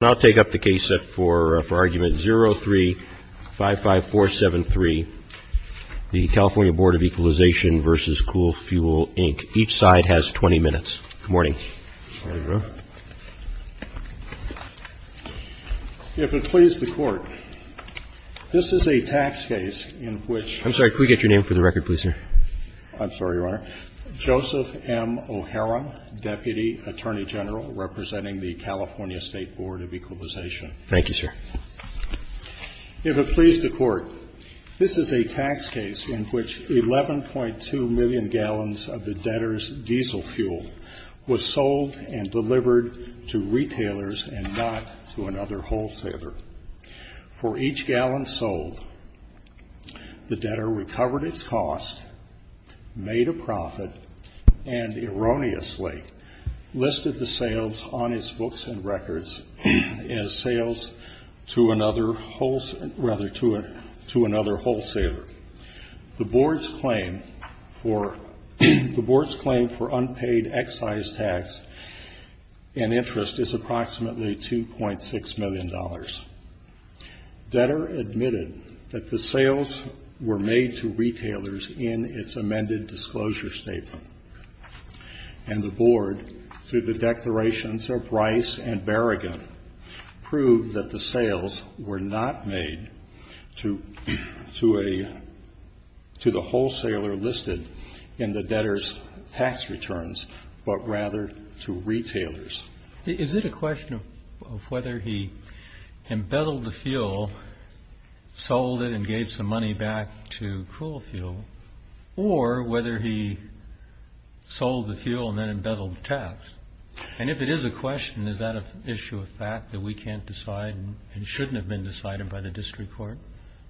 I'll take up the case for argument 0355473, the California Board of Equalization v. Cool Fuel, Inc. Each side has 20 minutes. Good morning. If it pleases the Court, this is a tax case in which – I'm sorry, could we get your name for the record, please, sir? I'm sorry, Your Honor. Joseph M. O'Heron, Deputy Attorney General representing the California State Board of Equalization. Thank you, sir. If it pleases the Court, this is a tax case in which 11.2 million gallons of the debtor's diesel fuel was sold and delivered to retailers and not to another wholesaler. For each gallon sold, the debtor recovered its cost, made a profit, and erroneously listed the sales on his books and records as sales to another wholesaler. The Board's claim for unpaid excise tax and interest is approximately $2.6 million. Debtor admitted that the sales were made to retailers in its amended disclosure statement, and the Board, through the declarations of Rice and Berrigan, proved that the sales were not made to a – to the wholesaler listed in the debtor's tax returns, but rather to retailers. Is it a question of whether he embezzled the fuel, sold it, and gave some money back to Cool Fuel, or whether he sold the fuel and then embezzled the tax? And if it is a question, is that an issue of fact that we can't decide and shouldn't have been decided by the district court?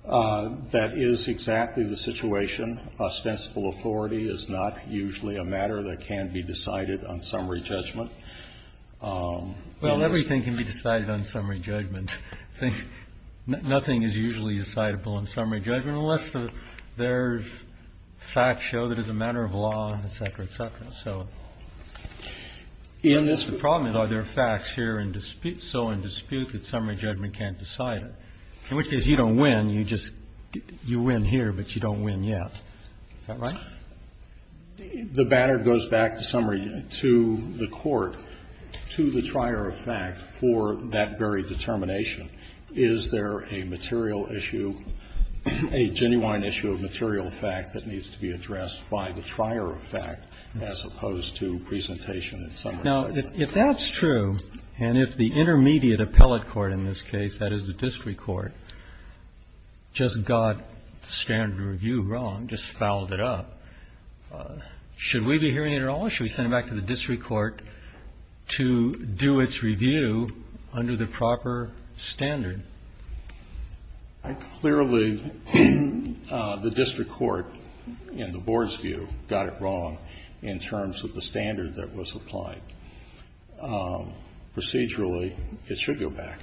That is exactly the situation. Ostensible authority is not usually a matter that can be decided on summary judgment. Well, everything can be decided on summary judgment. Nothing is usually decidable on summary judgment unless there's facts show that it's a matter of law, et cetera, et cetera. So the problem is, are there facts here in dispute? And if there's facts, are there facts here in dispute that summary judgment can't decide it? In which case, you don't win. You just – you win here, but you don't win yet. Is that right? The banner goes back to summary – to the court, to the trier of fact for that very determination. Is there a material issue, a genuine issue of material fact that needs to be addressed by the trier of fact as opposed to presentation of summary judgment? Now, if that's true, and if the intermediate appellate court in this case, that is the district court, just got standard review wrong, just fouled it up, should we be hearing it at all? Should we send it back to the district court to do its review under the proper standard? Clearly, the district court, in the board's view, got it wrong in terms of the standard that was applied. Procedurally, it should go back.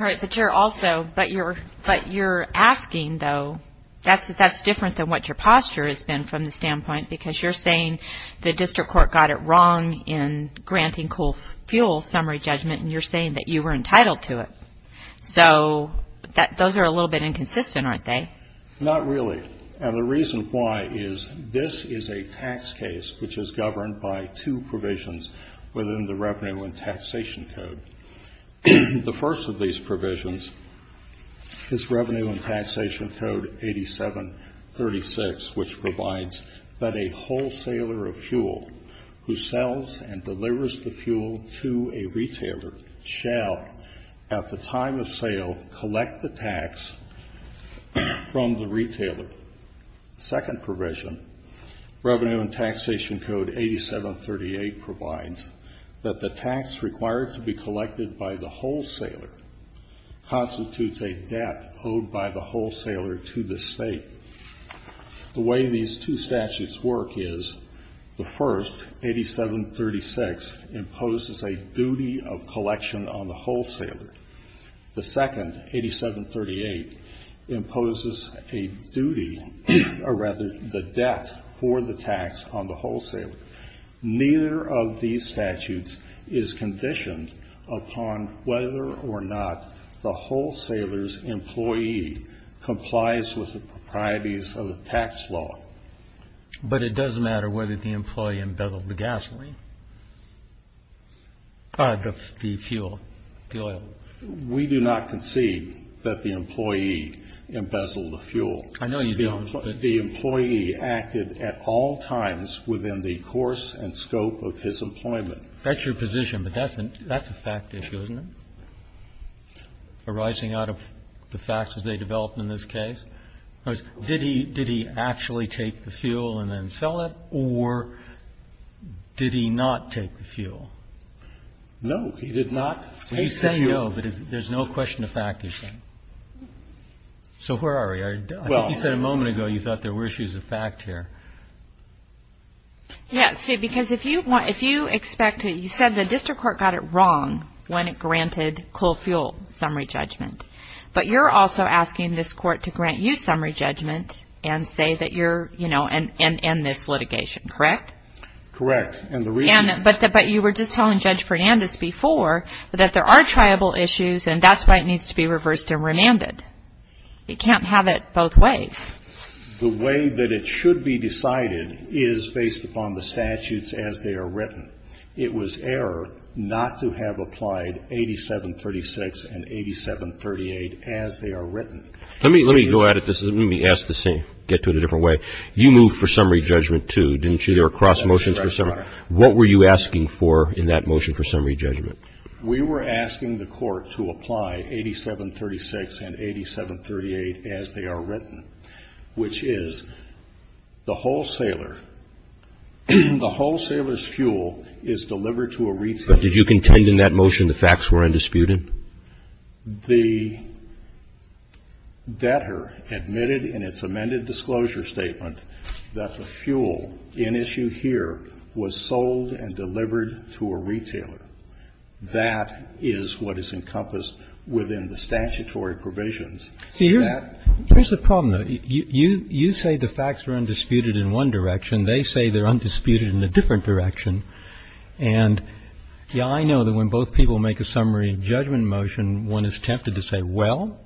All right. But, Chair, also, but you're asking, though, that's different than what your posture has been from the standpoint, because you're saying the district court got it wrong in granting coal fuel summary judgment, and you're saying that you were entitled to it. So those are a little bit inconsistent, aren't they? Not really, and the reason why is this is a tax case which is governed by two provisions within the Revenue and Taxation Code. The first of these provisions is Revenue and Taxation Code 8736, which provides that a wholesaler of fuel who sells and delivers the fuel to a retailer shall, at the time of sale, collect the tax from the retailer. The second provision, Revenue and Taxation Code 8738, provides that the tax required to be collected by the wholesaler constitutes a debt owed by the wholesaler to the state. The way these two statutes work is the first, 8736, imposes a duty of collection on the wholesaler. The second, 8738, imposes a duty, or rather, the debt for the tax on the wholesaler. Neither of these statutes is conditioned upon whether or not the wholesaler's employee complies with the proprieties of the tax law. But it does matter whether the employee embezzled the gasoline, the fuel, the oil. We do not concede that the employee embezzled the fuel. I know you don't. The employee acted at all times within the course and scope of his employment. That's your position, but that's a fact issue, isn't it? Arising out of the facts as they developed in this case, did he actually take the fuel and then sell it, or did he not take the fuel? No, he did not take the fuel. Well, you say no, but there's no question of fact you're saying. So where are we? I think you said a moment ago you thought there were issues of fact here. Yes, because if you expect to – you said the district court got it wrong when it granted coal fuel summary judgment, but you're also asking this court to grant you summary judgment and say that you're – and end this litigation, correct? Correct. But you were just telling Judge Fernandez before that there are tribal issues, and that's why it needs to be reversed and remanded. It can't have it both ways. The way that it should be decided is based upon the statutes as they are written. It was error not to have applied 8736 and 8738 as they are written. Let me go at it. Let me ask this thing, get to it a different way. You moved for summary judgment, too, didn't you? There were cross motions for summary. What were you asking for in that motion for summary judgment? We were asking the court to apply 8736 and 8738 as they are written, which is the wholesaler's fuel is delivered to a retailer. But did you contend in that motion the facts were undisputed? The debtor admitted in its amended disclosure statement that the fuel in issue here was sold and delivered to a retailer. That is what is encompassed within the statutory provisions. See, here's the problem, though. You say the facts are undisputed in one direction. They say they're undisputed in a different direction. And, yeah, I know that when both people make a summary judgment motion, one is tempted to say, well,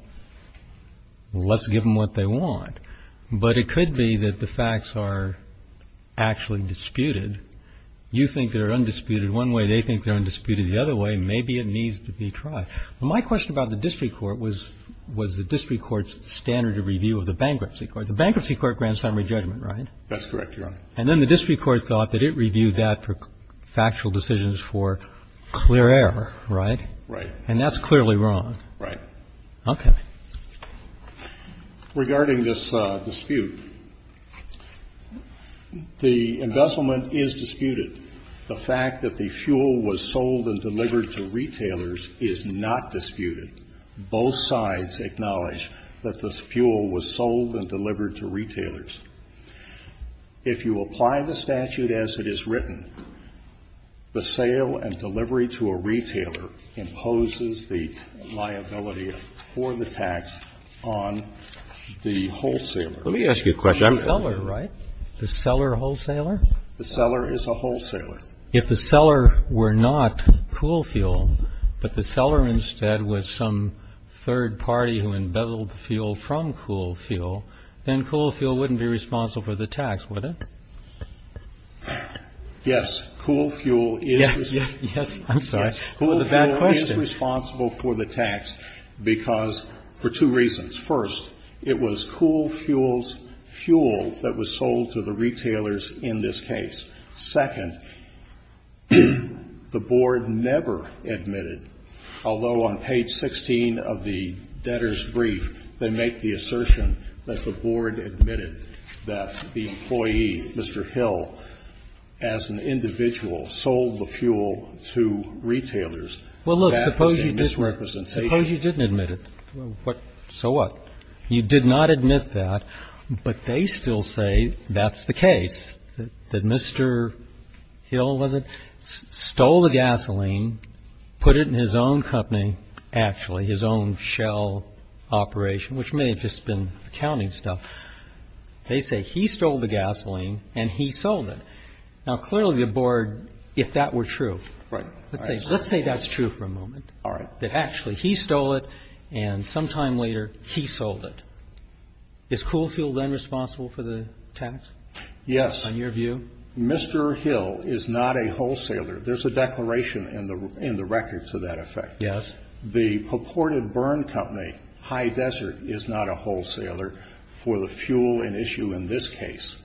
let's give them what they want. But it could be that the facts are actually disputed. You think they're undisputed one way. They think they're undisputed the other way. Maybe it needs to be tried. My question about the district court was, was the district court's standard of review of the bankruptcy court. The bankruptcy court grants summary judgment, right? That's correct, Your Honor. And then the district court thought that it reviewed that for factual decisions for clear error, right? Right. And that's clearly wrong. Right. Okay. Regarding this dispute, the embezzlement is disputed. The fact that the fuel was sold and delivered to retailers is not disputed. Both sides acknowledge that the fuel was sold and delivered to retailers. If you apply the statute as it is written, the sale and delivery to a retailer imposes the liability for the tax on the wholesaler. Let me ask you a question. The seller, right? The seller wholesaler? The seller is a wholesaler. If the seller were not Cool Fuel, but the seller instead was some third party who embezzled fuel from Cool Fuel, then Cool Fuel wouldn't be responsible for the tax, would it? Yes. Cool Fuel is responsible. Yes. I'm sorry. The bad question. Cool Fuel is responsible for the tax because for two reasons. First, it was Cool Fuel's fuel that was sold to the retailers in this case. Second, the Board never admitted, although on page 16 of the debtor's brief, they make the assertion that the Board admitted that the employee, Mr. Hill, as an individual, sold the fuel to retailers. Well, look, suppose you didn't admit it. So what? You did not admit that, but they still say that's the case, that Mr. Hill, was it? Stole the gasoline, put it in his own company, actually, his own shell operation, which may have just been accounting stuff. They say he stole the gasoline and he sold it. Now, clearly, the Board, if that were true, let's say that's true for a moment, that actually he stole it and sometime later he sold it. Is Cool Fuel then responsible for the tax? Yes. On your view? Mr. Hill is not a wholesaler. There's a declaration in the record to that effect. Yes. The purported burn company, High Desert, is not a wholesaler for the fuel in issue in this case.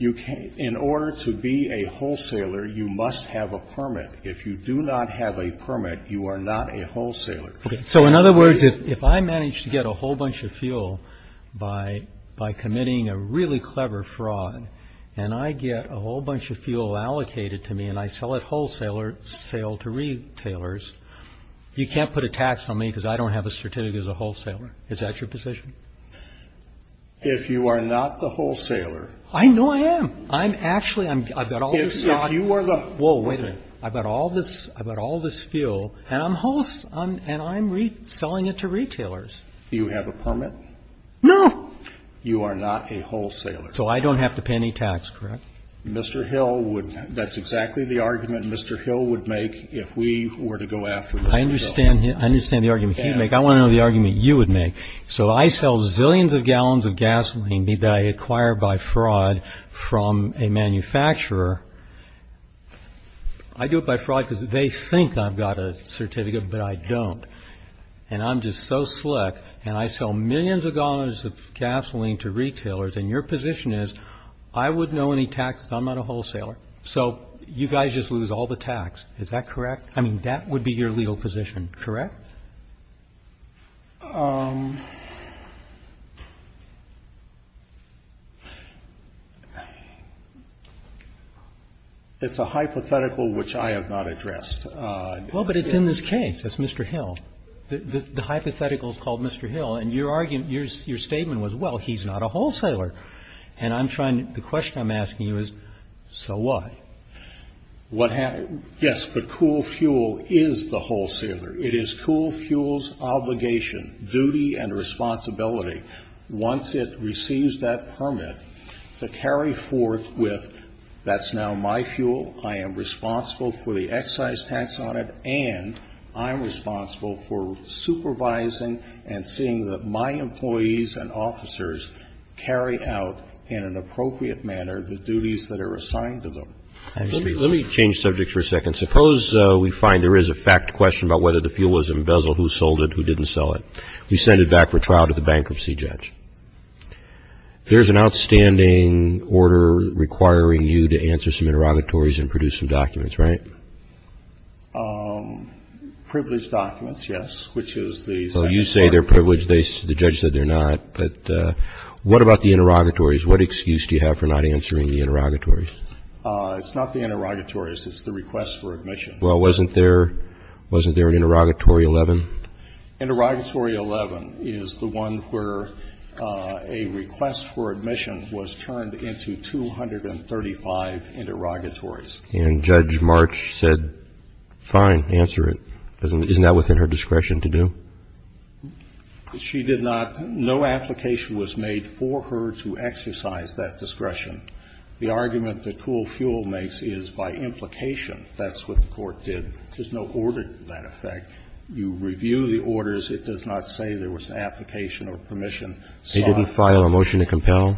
In order to be a wholesaler, you must have a permit. If you do not have a permit, you are not a wholesaler. So, in other words, if I manage to get a whole bunch of fuel by committing a really clever fraud and I get a whole bunch of fuel allocated to me and I sell it wholesale to retailers, you can't put a tax on me because I don't have a certificate as a wholesaler. Is that your position? If you are not the wholesaler... I know I am. I'm actually... If you are the... Whoa, wait a minute. I've got all this fuel and I'm selling it to retailers. Do you have a permit? No. You are not a wholesaler. So I don't have to pay any tax, correct? Mr. Hill would... That's exactly the argument Mr. Hill would make if we were to go after Mr. Hill. I understand the argument he would make. I want to know the argument you would make. So I sell zillions of gallons of gasoline that I acquire by fraud from a manufacturer. I do it by fraud because they think I've got a certificate, but I don't. And I'm just so slick. And I sell millions of gallons of gasoline to retailers. And your position is I wouldn't owe any taxes. I'm not a wholesaler. So you guys just lose all the tax. Is that correct? I mean, that would be your legal position, correct? It's a hypothetical which I have not addressed. Well, but it's in this case. It's Mr. Hill. The hypothetical is called Mr. Hill. And your argument, your statement was, well, he's not a wholesaler. And I'm trying to the question I'm asking you is, so what? Yes, but Cool Fuel is the wholesaler. It is Cool Fuel's obligation, duty, and responsibility once it receives that permit to carry forth with that's now my fuel, I am responsible for the excise tax on it, and I'm responsible for supervising and seeing that my employees and officers carry out in an appropriate manner the duties that are assigned to them. Let me change subjects for a second. Suppose we find there is a fact question about whether the fuel was embezzled, who sold it, who didn't sell it. We send it back for trial to the bankruptcy judge. There's an outstanding order requiring you to answer some interrogatories and produce some documents, right? Privileged documents, yes, which is the second part. So you say they're privileged. The judge said they're not. But what about the interrogatories? What excuse do you have for not answering the interrogatories? It's not the interrogatories. It's the request for admission. Well, wasn't there an interrogatory 11? Interrogatory 11 is the one where a request for admission was turned into 235 interrogatories. And Judge March said, fine, answer it. Isn't that within her discretion to do? She did not. No application was made for her to exercise that discretion. The argument that Cool Fuel makes is by implication. That's what the Court did. There's no order to that effect. You review the orders. It does not say there was an application or permission sought. They didn't file a motion to compel?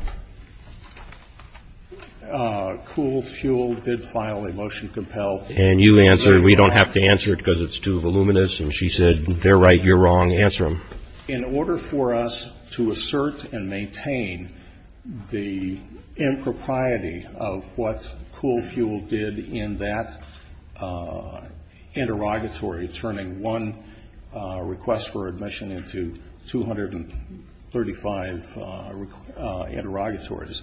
Cool Fuel did file a motion to compel. And you answered. We don't have to answer it because it's too voluminous. And she said, they're right, you're wrong. Answer them. In order for us to assert and maintain the impropriety of what Cool Fuel did in that interrogatory, turning one request for admission into 235 interrogatories,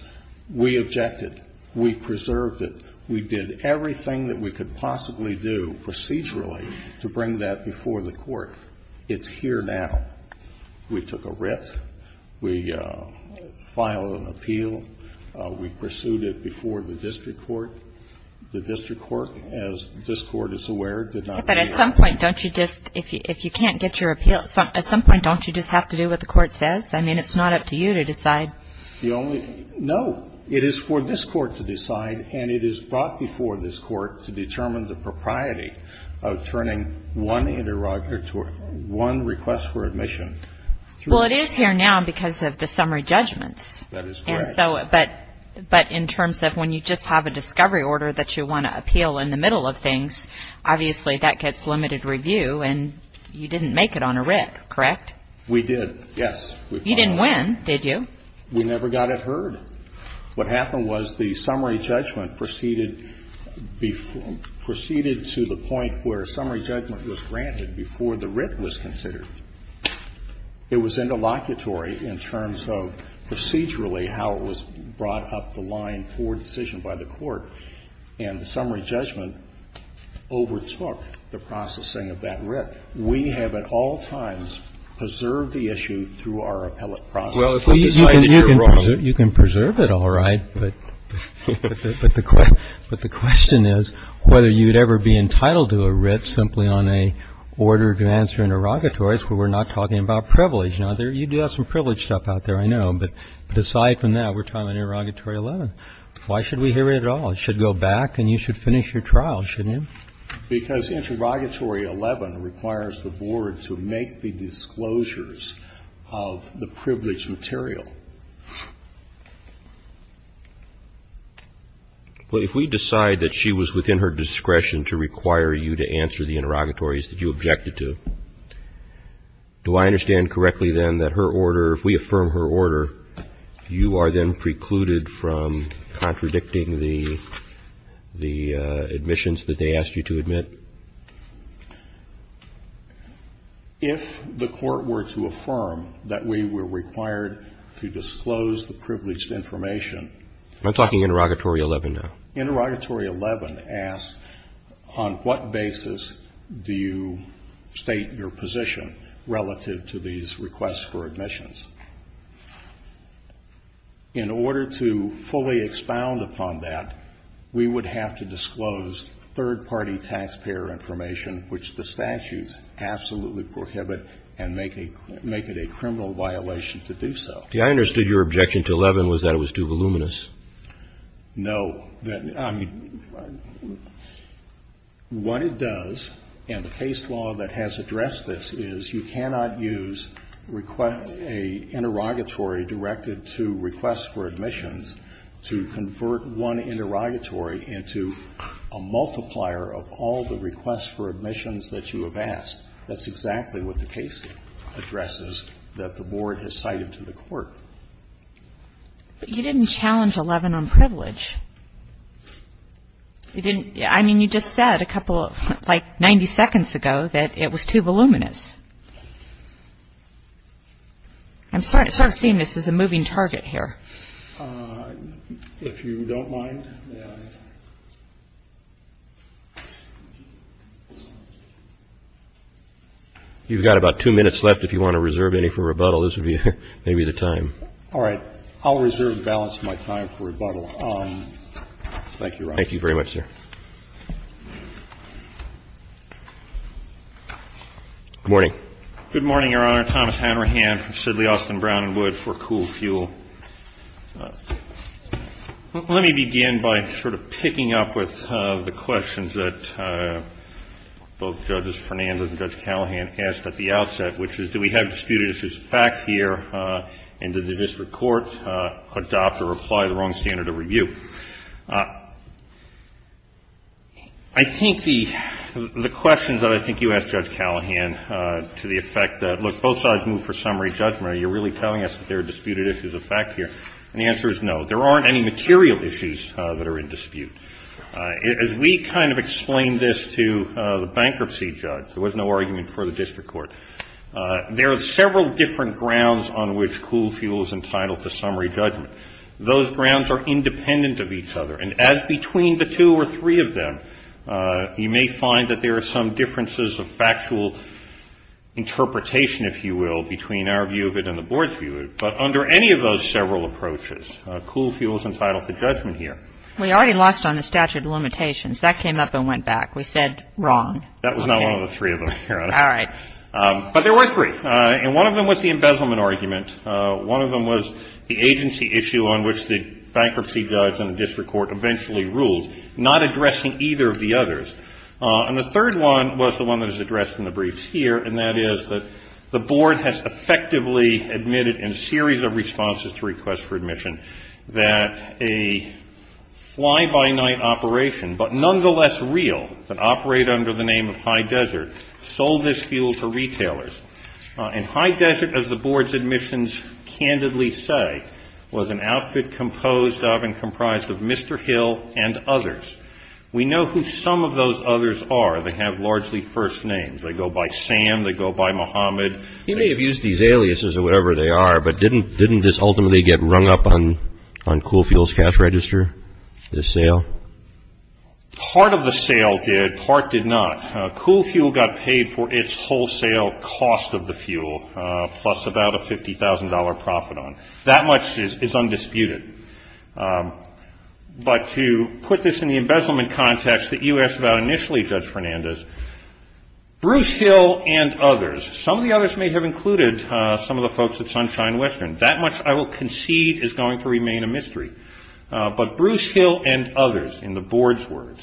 we objected. We preserved it. We did everything that we could possibly do procedurally to bring that before the Court. It's here now. We took a writ. We filed an appeal. We pursued it before the district court. The district court, as this Court is aware, did not read it. But at some point, don't you just, if you can't get your appeal, at some point, don't you just have to do what the Court says? I mean, it's not up to you to decide. No. It is for this Court to decide, and it is brought before this Court to determine the propriety of turning one interrogatory, one request for admission. Well, it is here now because of the summary judgments. That is correct. But in terms of when you just have a discovery order that you want to appeal in the middle of things, obviously that gets limited review, and you didn't make it on a writ, correct? We did, yes. You didn't win, did you? We never got it heard. What happened was the summary judgment proceeded to the point where summary judgment was granted before the writ was considered. It was interlocutory in terms of procedurally how it was brought up the line for decision by the Court, and the summary judgment overtook the processing of that writ. We have at all times preserved the issue through our appellate process. Well, you can preserve it, all right, but the question is whether you would ever be entitled to a writ simply on a order to answer interrogatories where we're not talking about privilege. Now, you do have some privilege stuff out there, I know, but aside from that, we're talking about Interrogatory 11. Why should we hear it at all? It should go back and you should finish your trial, shouldn't you? Because Interrogatory 11 requires the Board to make the disclosures of the privilege material. Well, if we decide that she was within her discretion to require you to answer the interrogatories that you objected to, do I understand correctly, then, that her order, if we affirm her order, you are then precluded from contradicting the admissions that they asked you to admit? If the Court were to affirm that we were required to disclose the privileged information — I'm talking Interrogatory 11 now. Interrogatory 11 asks on what basis do you state your position relative to these requests for admissions. In order to fully expound upon that, we would have to disclose third-party taxpayer information, which the statutes absolutely prohibit and make it a criminal violation to do so. I understood your objection to 11 was that it was too voluminous. No. What it does, and the case law that has addressed this, is you cannot use a interrogatory directed to requests for admissions to convert one interrogatory into a multiplier of all the requests for admissions that you have asked. That's exactly what the case addresses that the Board has cited to the Court. But you didn't challenge 11 on privilege. You didn't — I mean, you just said a couple — like 90 seconds ago that it was too voluminous. I'm sort of seeing this as a moving target here. If you don't mind, may I? You've got about two minutes left. If you want to reserve any for rebuttal, this would be maybe the time. All right. I'll reserve and balance my time for rebuttal. Thank you, Your Honor. Thank you very much, sir. Good morning. Good morning, Your Honor. I'm Thomas Hanrahan from Sidley, Austin, Brown & Wood for Cool Fuel. Let me begin by sort of picking up with the questions that both Judges Fernandez and Judge Callahan asked at the outset, which is do we have disputed issues of facts here, and did the district court adopt or apply the wrong standard of review? I think the questions that I think you asked Judge Callahan to the effect that, look, both sides moved for summary judgment. Are you really telling us that there are disputed issues of fact here? And the answer is no. There aren't any material issues that are in dispute. As we kind of explained this to the bankruptcy judge, there was no argument for the district court. There are several different grounds on which Cool Fuel is entitled to summary judgment. Those grounds are independent of each other. And as between the two or three of them, you may find that there are some differences of factual interpretation, if you will, between our view of it and the Board's view of it. But under any of those several approaches, Cool Fuel is entitled to judgment here. We already lost on the statute of limitations. That came up and went back. We said wrong. That was not one of the three of them, Your Honor. All right. But there were three. And one of them was the embezzlement argument. One of them was the agency issue on which the bankruptcy judge and the district court eventually ruled, not addressing either of the others. And the third one was the one that is addressed in the briefs here, and that is that the Board has effectively admitted in a series of responses to requests for admission that a fly-by-night operation, but nonetheless real, that operate under the name of High Desert, sold this fuel to retailers. And High Desert, as the Board's admissions candidly say, was an outfit composed of and comprised of Mr. Hill and others. We know who some of those others are. They have largely first names. They go by Sam. They go by Muhammad. You may have used these aliases or whatever they are, but didn't this ultimately get rung up on Cool Fuel's cash register, this sale? Part of the sale did. Part did not. Cool Fuel got paid for its wholesale cost of the fuel, plus about a $50,000 profit on it. That much is undisputed. But to put this in the embezzlement context that you asked about initially, Judge Fernandez, Bruce Hill and others, some of the others may have included some of the folks at Sunshine Western. That much I will concede is going to remain a mystery. But Bruce Hill and others, in the Board's words,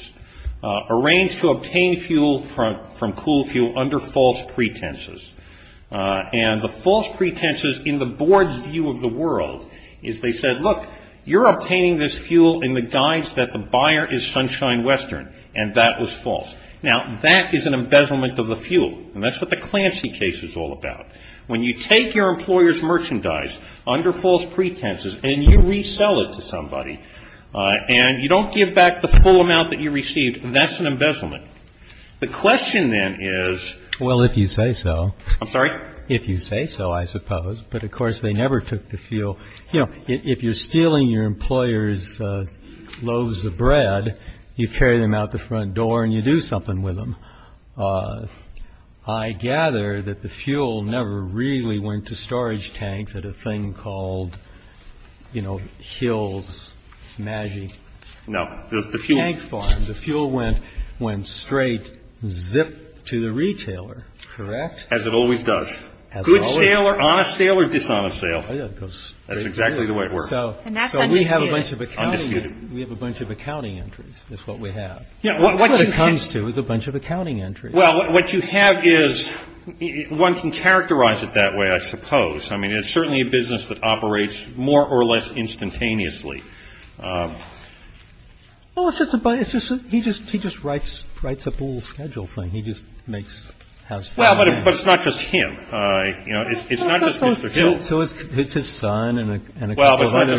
arranged to obtain fuel from Cool Fuel under false pretenses. And the false pretenses in the Board's view of the world is they said, look, you're obtaining this fuel in the guise that the buyer is Sunshine Western. And that was false. Now, that is an embezzlement of the fuel. And that's what the Clancy case is all about. When you take your employer's merchandise under false pretenses and you resell it to somebody and you don't give back the full amount that you received, that's an embezzlement. The question, then, is... Well, if you say so. I'm sorry? If you say so, I suppose. But, of course, they never took the fuel. You know, if you're stealing your employer's loaves of bread, you carry them out the front door and you do something with them. I gather that the fuel never really went to storage tanks at a thing called, you know, Hill's Maggi. No. The fuel. The fuel went straight zip to the retailer. Correct? As it always does. As it always does. Good sale or honest sale or dishonest sale. That's exactly the way it works. And that's undisputed. Undisputed. We have a bunch of accounting entries is what we have. What it comes to is a bunch of accounting entries. Well, what you have is... One can characterize it that way, I suppose. I mean, it's certainly a business that operates more or less instantaneously. Well, it's just... He just writes up a little schedule thing. He just makes... Well, but it's not just him. It's not just Mr. Hill. So it's his son and a couple of other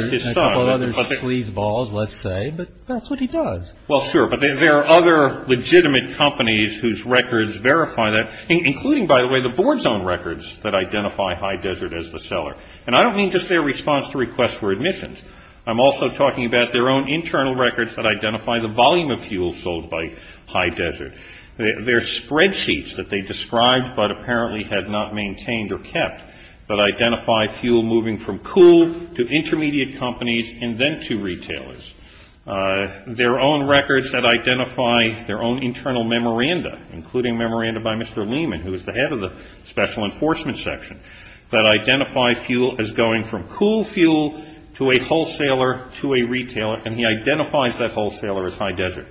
sleazeballs, let's say. But that's what he does. Well, sure. But there are other legitimate companies whose records verify that. Including, by the way, the board's own records that identify High Desert as the seller. And I don't mean just their response to requests for admissions. I'm also talking about their own internal records that identify the volume of fuel sold by High Desert. Their spreadsheets that they described but apparently had not maintained or kept that identify fuel moving from cool to intermediate companies and then to retailers. Their own records that identify their own internal memoranda, including memoranda by Mr. Lehman, who is the head of the special enforcement section, that identify fuel as going from cool fuel to a wholesaler to a retailer. And he identifies that wholesaler as High Desert.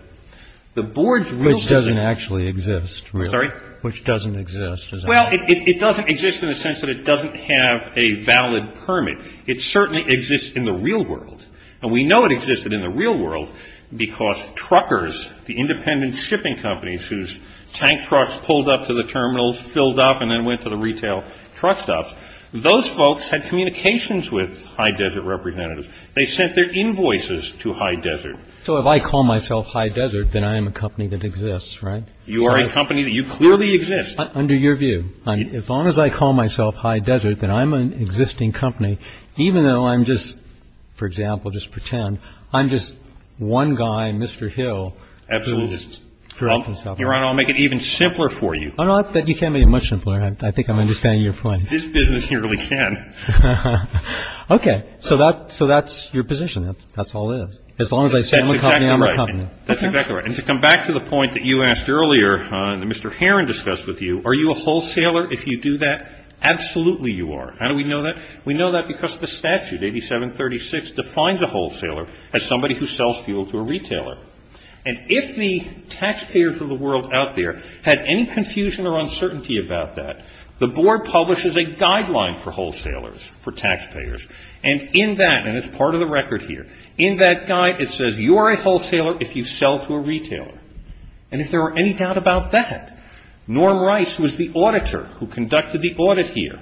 The board's real record... Which doesn't actually exist, really. I'm sorry? Which doesn't exist. Well, it doesn't exist in the sense that it doesn't have a valid permit. It certainly exists in the real world. And we know it existed in the real world because truckers, the independent shipping companies whose tank trucks pulled up to the terminals, filled up, and then went to the retail truck stops, those folks had communications with High Desert representatives. They sent their invoices to High Desert. So if I call myself High Desert, then I am a company that exists, right? You are a company that you clearly exist. Under your view. As long as I call myself High Desert, then I'm an existing company. Even though I'm just, for example, just pretend, I'm just one guy, Mr. Hill. Absolutely. I'll make it even simpler for you. You can't make it much simpler. I think I'm understanding your point. This business nearly can. Okay. So that's your position. That's all it is. As long as I say I'm a company, I'm a company. That's exactly right. And to come back to the point that you asked earlier, that Mr. Heron discussed with you, are you a wholesaler? If you do that, absolutely you are. How do we know that? We know that because the statute, 8736, defines a wholesaler as somebody who sells fuel to a retailer. And if the taxpayers of the world out there had any confusion or uncertainty about that, the board publishes a guideline for wholesalers, for taxpayers. And in that, and it's part of the record here, in that guide it says you're a wholesaler if you sell to a retailer. And if there were any doubt about that, Norm Rice, who is the auditor who conducted the audit here,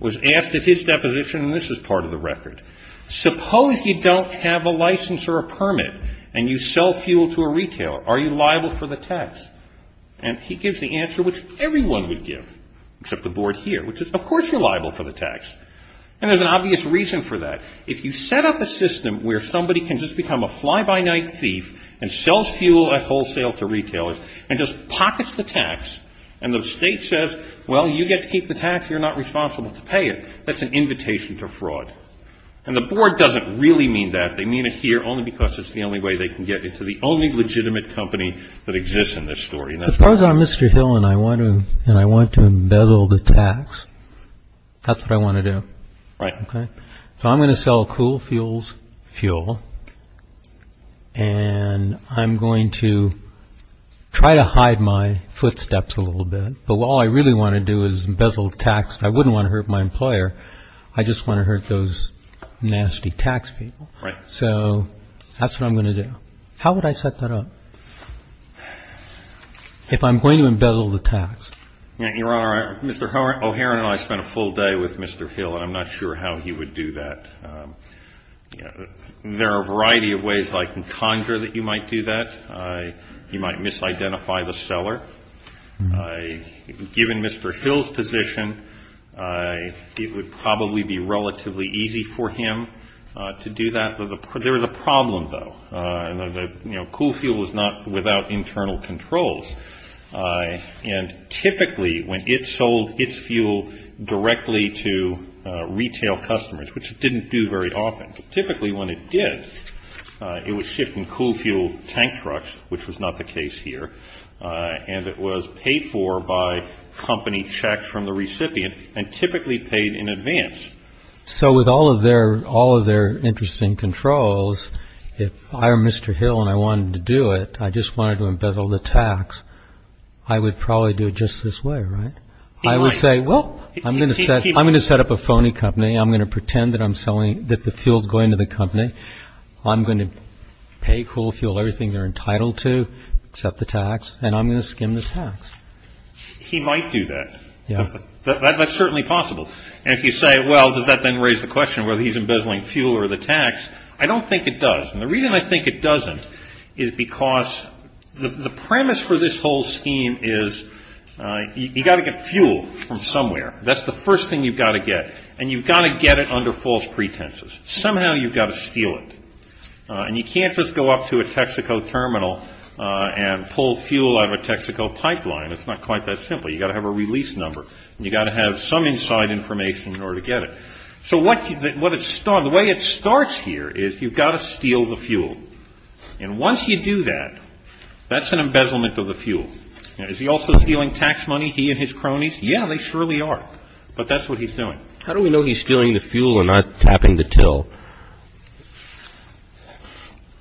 was asked at his deposition, and this is part of the record, suppose you don't have a license or a permit and you sell fuel to a retailer. Are you liable for the tax? And he gives the answer which everyone would give, except the board here, which is of course you're liable for the tax. And there's an obvious reason for that. If you set up a system where somebody can just become a fly-by-night thief and sell fuel at wholesale to retailers and just pockets the tax and the state says, well, you get to keep the tax, you're not responsible to pay it, that's an invitation to fraud. And the board doesn't really mean that. They mean it here only because it's the only way they can get into the only legitimate company that exists in this story. Suppose I'm Mr. Hill and I want to embezzle the tax. That's what I want to do. Right. So I'm going to sell Cool Fuels fuel and I'm going to try to hide my footsteps a little bit. But all I really want to do is embezzle the tax. I wouldn't want to hurt my employer. I just want to hurt those nasty tax people. Right. So that's what I'm going to do. How would I set that up if I'm going to embezzle the tax? Your Honor, Mr. O'Hara and I spent a full day with Mr. Hill and I'm not sure how he would do that. There are a variety of ways I can conjure that you might do that. You might misidentify the seller. Given Mr. Hill's position, it would probably be relatively easy for him to do that. There is a problem, though. Cool Fuel is not without internal controls. And typically when it sold its fuel directly to retail customers, which it didn't do very often, typically when it did, it was shipped in Cool Fuel tank trucks, which was not the case here. And it was paid for by company checks from the recipient and typically paid in advance. So with all of their interesting controls, if I were Mr. Hill and I wanted to do it, I just wanted to embezzle the tax, I would probably do it just this way, right? I would say, well, I'm going to set up a phony company. I'm going to pretend that the fuel is going to the company. I'm going to pay Cool Fuel everything they're entitled to, except the tax, and I'm going to skim the tax. He might do that. That's certainly possible. And if you say, well, does that then raise the question whether he's embezzling fuel or the tax, I don't think it does. And the reason I think it doesn't is because the premise for this whole scheme is you've got to get fuel from somewhere. That's the first thing you've got to get. And you've got to get it under false pretenses. Somehow you've got to steal it. And you can't just go up to a Texaco terminal and pull fuel out of a Texaco pipeline. It's not quite that simple. You've got to have a release number. You've got to have some inside information in order to get it. So the way it starts here is you've got to steal the fuel. And once you do that, that's an embezzlement of the fuel. Is he also stealing tax money, he and his cronies? Yeah, they surely are. But that's what he's doing. How do we know he's stealing the fuel and not tapping the till?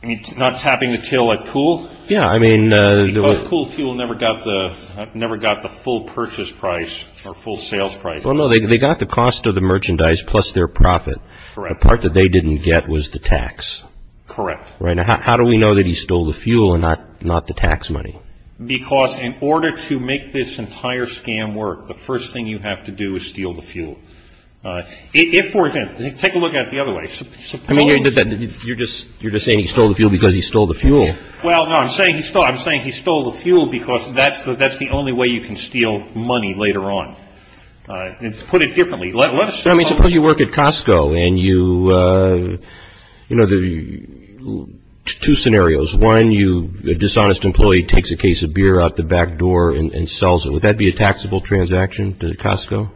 Not tapping the till at Cool? Because Cool Fuel never got the full purchase price or full sales price. Well, no, they got the cost of the merchandise plus their profit. The part that they didn't get was the tax. Correct. How do we know that he stole the fuel and not the tax money? Because in order to make this entire scam work, the first thing you have to do is steal the fuel. If, for example, take a look at it the other way. You're just saying he stole the fuel because he stole the fuel. Well, no, I'm saying he stole the fuel because that's the only way you can steal money later on. Put it differently. Suppose you work at Costco and there are two scenarios. One, a dishonest employee takes a case of beer out the back door and sells it. Would that be a taxable transaction at Costco?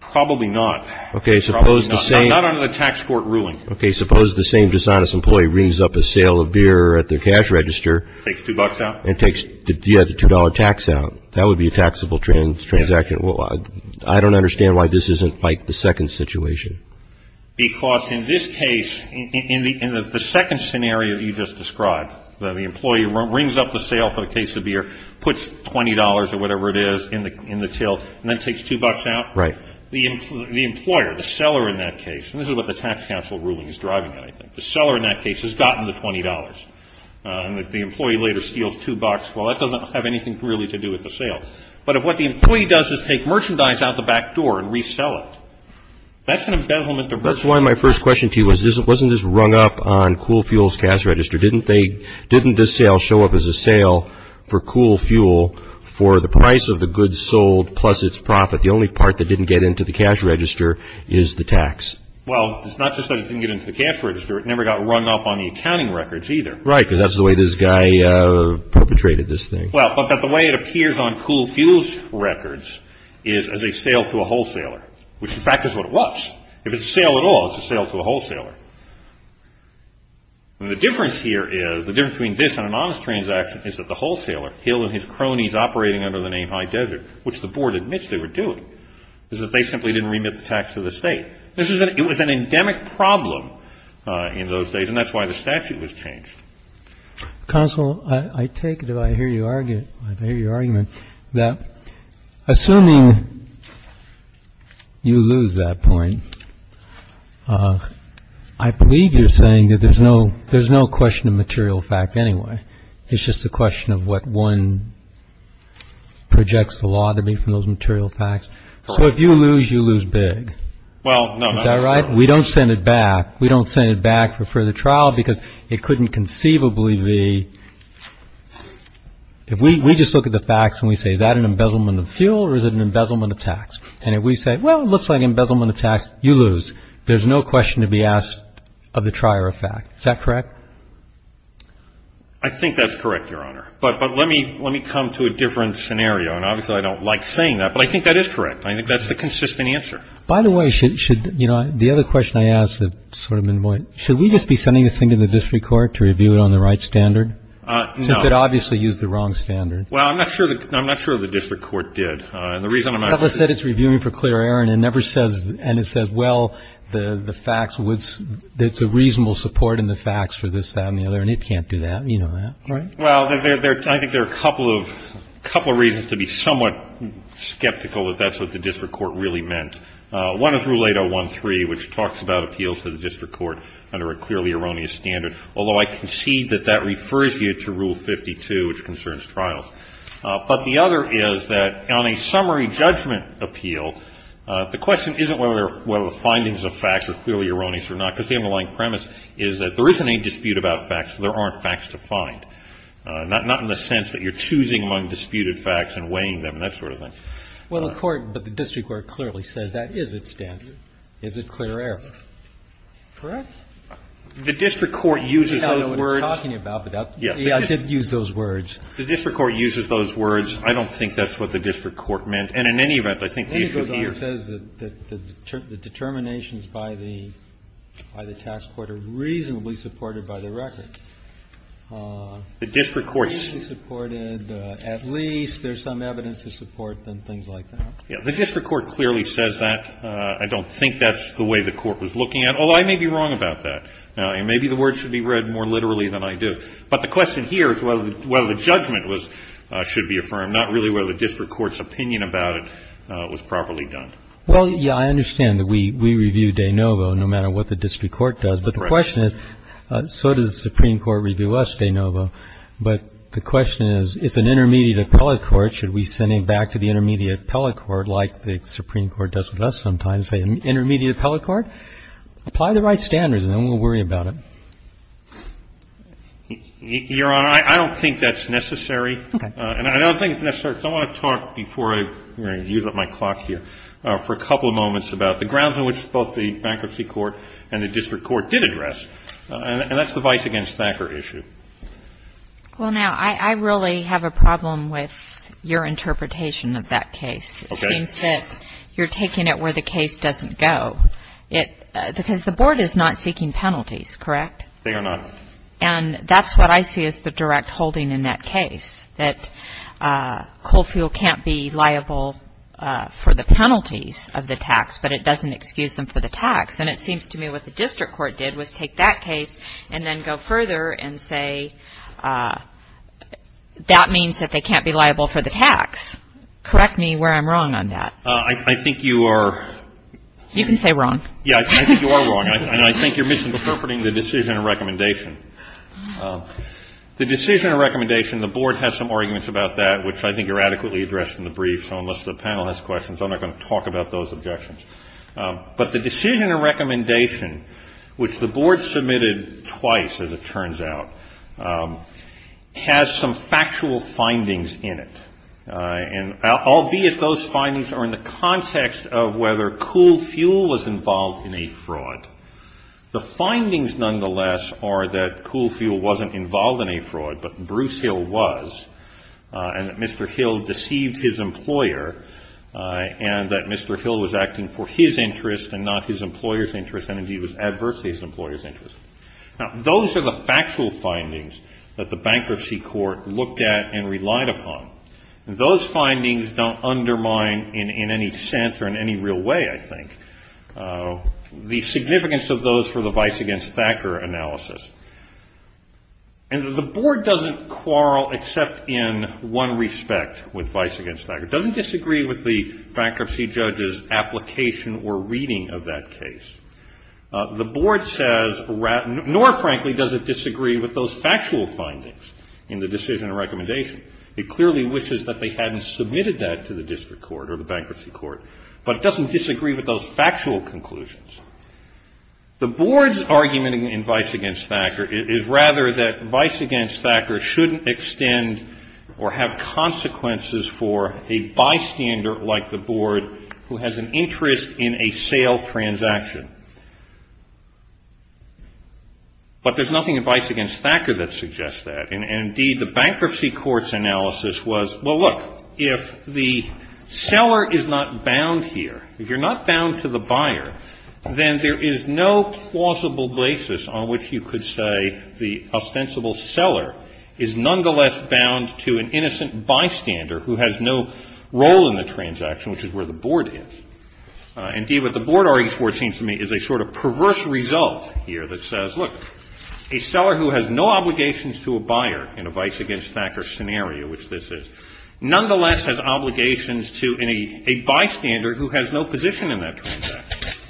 Probably not. Not under the tax court ruling. Okay, suppose the same dishonest employee rings up a sale of beer at their cash register. Takes two bucks out. And takes the $2 tax out. That would be a taxable transaction. I don't understand why this isn't the second situation. Because in this case, in the second scenario that you just described, the employee rings up the sale for the case of beer, puts $20 or whatever it is in the till, and then takes two bucks out. Right. The employer, the seller in that case, and this is what the tax counsel ruling is driving at, I think. The seller in that case has gotten the $20. And the employee later steals two bucks. Well, that doesn't have anything really to do with the sale. But if what the employee does is take merchandise out the back door and resell it, that's an embezzlement. That's why my first question to you was, wasn't this rung up on Cool Fuel's cash register? Didn't this sale show up as a sale for Cool Fuel for the price of the goods sold plus its profit? The only part that didn't get into the cash register is the tax. Well, it's not just that it didn't get into the cash register. It never got rung up on the accounting records either. Right, because that's the way this guy perpetrated this thing. Well, but the way it appears on Cool Fuel's records is as a sale to a wholesaler, which in fact is what it was. If it's a sale at all, it's a sale to a wholesaler. The difference here is, the difference between this and an honest transaction is that the wholesaler, Hill and his cronies operating under the name High Desert, which the board admits they were doing, is that they simply didn't remit the tax to the state. It was an endemic problem in those days, and that's why the statute was changed. Counsel, I take it, and I hear your argument, that assuming you lose that point, I believe you're saying that there's no question of material fact anyway. It's just a question of what one projects the law to be from those material facts. So if you lose, you lose big. Well, no. Is that right? We don't send it back. We don't send it back for further trial because it couldn't conceivably be. If we just look at the facts and we say, is that an embezzlement of fuel or is it an embezzlement of tax? And if we say, well, it looks like embezzlement of tax, you lose. There's no question to be asked of the trier of fact. Is that correct? I think that's correct, Your Honor. But let me come to a different scenario. And obviously I don't like saying that, but I think that is correct. I think that's the consistent answer. By the way, should the other question I asked have sort of been more, should we just be sending this thing to the district court to review it on the right standard? No. Since it obviously used the wrong standard. Well, I'm not sure the district court did. The reason I'm not sure. Well, Atlas said it's reviewing for clear error, and it never says, and it says, well, the facts, it's a reasonable support in the facts for this, that, and the other, and it can't do that. You know that, right? Well, I think there are a couple of reasons to be somewhat skeptical that that's what the district court really meant. One is Rule 8013, which talks about appeals to the district court under a clearly erroneous standard, although I concede that that refers you to Rule 52, which concerns trials. But the other is that on a summary judgment appeal, the question isn't whether the findings of facts are clearly erroneous or not, because the underlying premise is that there isn't any dispute about facts, so there aren't facts to find, not in the sense that you're choosing among disputed facts and weighing them and that sort of thing. Well, the court, but the district court clearly says that is its standard, is it clear error. Correct? The district court uses those words. I don't know what it's talking about, but I did use those words. The district court uses those words. I don't think that's what the district court meant. And in any event, I think the issue here is that the determinations by the task force are reasonably supported by the record. The district court's. At least there's some evidence of support and things like that. The district court clearly says that. I don't think that's the way the court was looking at it, although I may be wrong about that. Maybe the words should be read more literally than I do. But the question here is whether the judgment should be affirmed, not really whether the district court's opinion about it was properly done. Well, yeah, I understand that we review de novo no matter what the district court does. But the question is, so does the Supreme Court review us de novo. But the question is, is an intermediate appellate court, should we send him back to the intermediate appellate court like the Supreme Court does with us sometimes, say an intermediate appellate court? Apply the right standards and then we'll worry about it. Your Honor, I don't think that's necessary. Okay. And I don't think it's necessary. I want to talk before I use up my clock here for a couple of moments about the grounds on which both the bankruptcy court and the district court did address. And that's the vice against Thacker issue. Well, now, I really have a problem with your interpretation of that case. Okay. It seems that you're taking it where the case doesn't go. Because the board is not seeking penalties, correct? They are not. And that's what I see as the direct holding in that case, that coal fuel can't be liable for the penalties of the tax but it doesn't excuse them for the tax. And it seems to me what the district court did was take that case and then go further and say that means that they can't be liable for the tax. Correct me where I'm wrong on that. I think you are. You can say wrong. Yeah, I think you are wrong. And I think you're misinterpreting the decision and recommendation. The decision and recommendation, the board has some arguments about that, which I think are adequately addressed in the brief. So unless the panel has questions, I'm not going to talk about those objections. But the decision and recommendation, which the board submitted twice, as it turns out, has some factual findings in it, and albeit those findings are in the context of whether coal fuel was involved in a fraud. The findings, nonetheless, are that coal fuel wasn't involved in a fraud, but Bruce Hill was, and that Mr. Hill deceived his employer, and that Mr. Hill was acting for his interest and not his employer's interest and, indeed, was adverse to his employer's interest. Now, those are the factual findings that the bankruptcy court looked at and relied upon. Those findings don't undermine in any sense or in any real way, I think, the significance of those for the vice against Thacker analysis. And the board doesn't quarrel except in one respect with vice against Thacker. It doesn't disagree with the bankruptcy judge's application or reading of that case. The board says, nor, frankly, does it disagree with those factual findings in the decision and recommendation. It clearly wishes that they hadn't submitted that to the district court or the bankruptcy court, but it doesn't disagree with those factual conclusions. The board's argument in vice against Thacker is rather that vice against Thacker shouldn't extend or have consequences for a bystander like the board who has an interest in a sale transaction. But there's nothing in vice against Thacker that suggests that, and, indeed, the bankruptcy court's analysis was, well, look, if the seller is not bound here, if you're not bound to the buyer, then there is no plausible basis on which you could say the ostensible seller is nonetheless bound to an innocent bystander who has no role in the transaction, which is where the board is. Indeed, what the board argues for, it seems to me, is a sort of perverse result here that says, look, a seller who has no obligations to a buyer in a vice against Thacker scenario, which this is, a bystander who has no position in that transaction.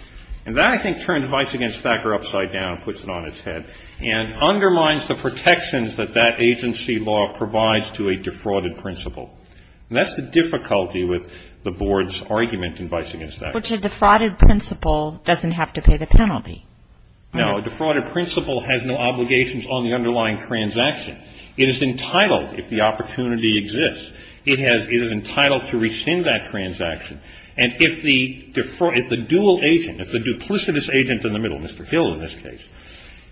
And that, I think, turns vice against Thacker upside down and puts it on its head and undermines the protections that that agency law provides to a defrauded principle. And that's the difficulty with the board's argument in vice against Thacker. But a defrauded principle doesn't have to pay the penalty. No. A defrauded principle has no obligations on the underlying transaction. It is entitled, if the opportunity exists, it is entitled to rescind that transaction. And if the dual agent, if the duplicitous agent in the middle, Mr. Hill in this case,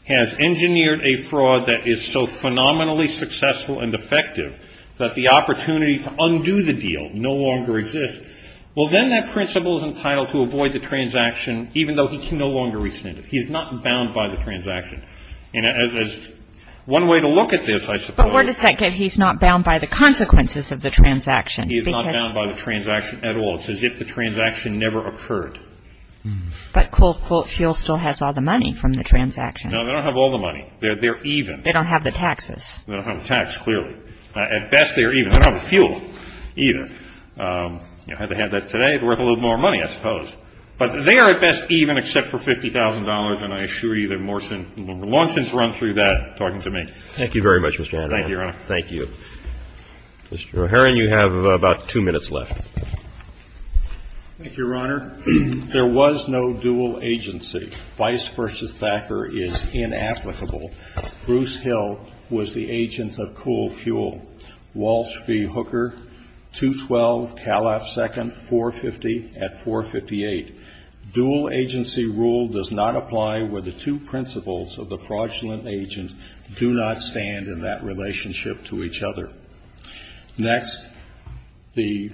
has engineered a fraud that is so phenomenally successful and effective that the opportunity to undo the deal no longer exists, well, then that principle is entitled to avoid the transaction, even though he can no longer rescind it. He's not bound by the transaction. And as one way to look at this, I suppose. But where does that get he's not bound by the consequences of the transaction? He is not bound by the transaction at all. It's as if the transaction never occurred. But Coal Fuel still has all the money from the transaction. No, they don't have all the money. They're even. They don't have the taxes. They don't have the tax, clearly. At best, they're even. They don't have the fuel either. Had they had that today, it would have been worth a little more money, I suppose. But they are at best even except for $50,000, and I assure you that Morrison, Lawson's run through that talking to me. Thank you very much, Mr. Adler. Thank you, Your Honor. Thank you. Mr. O'Heron, you have about two minutes left. Thank you, Your Honor. There was no dual agency. Vice v. Thacker is inapplicable. Bruce Hill was the agent of Coal Fuel. Walsh v. Hooker, 212 Calif. 2nd, 450 at 458. Dual agency rule does not apply where the two principles of the fraudulent agent do not stand in that relationship to each other. Next, the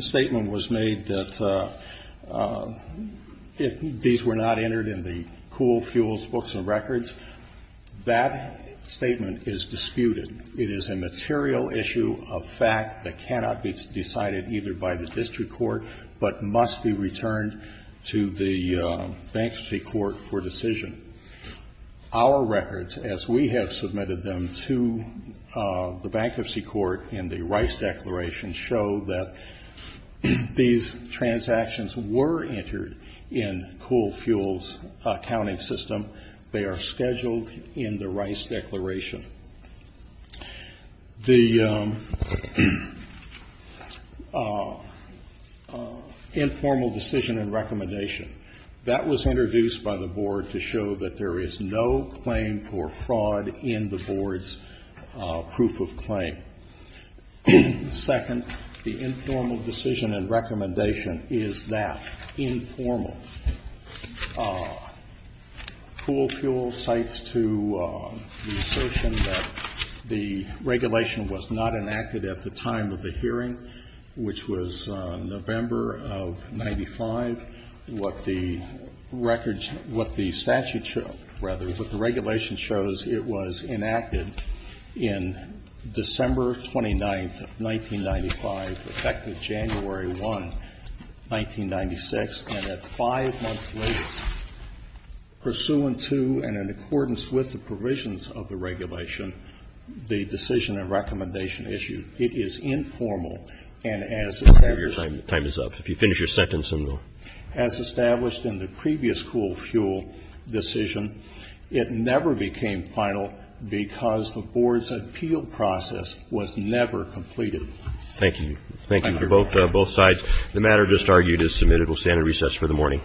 statement was made that if these were not entered in the Coal Fuels books and records, that statement is disputed. It is a material issue of fact that cannot be decided either by the district court but must be returned to the bankruptcy court for decision. Our records, as we have submitted them to the bankruptcy court in the Rice Declaration, show that these transactions were entered in Coal Fuels' accounting system. They are scheduled in the Rice Declaration. The informal decision and recommendation. That was introduced by the Board to show that there is no claim for fraud in the Board's proof of claim. Second, the informal decision and recommendation is that informal. Coal Fuels cites to the assertion that the regulation was not enacted at the time of the hearing, which was November of 1995. What the records, what the statute shows, rather, what the regulation shows, it was enacted in December 29th, 1995, effective January 1, 1996. And at five months later, pursuant to and in accordance with the provisions of the regulation, the decision and recommendation issued. It is informal. And as established as established in the previous Coal Fuel decision, it never became final because the Board's appeal process was never completed. Thank you. Thank you for both sides. The matter just argued is submitted. We'll stand at recess for the morning.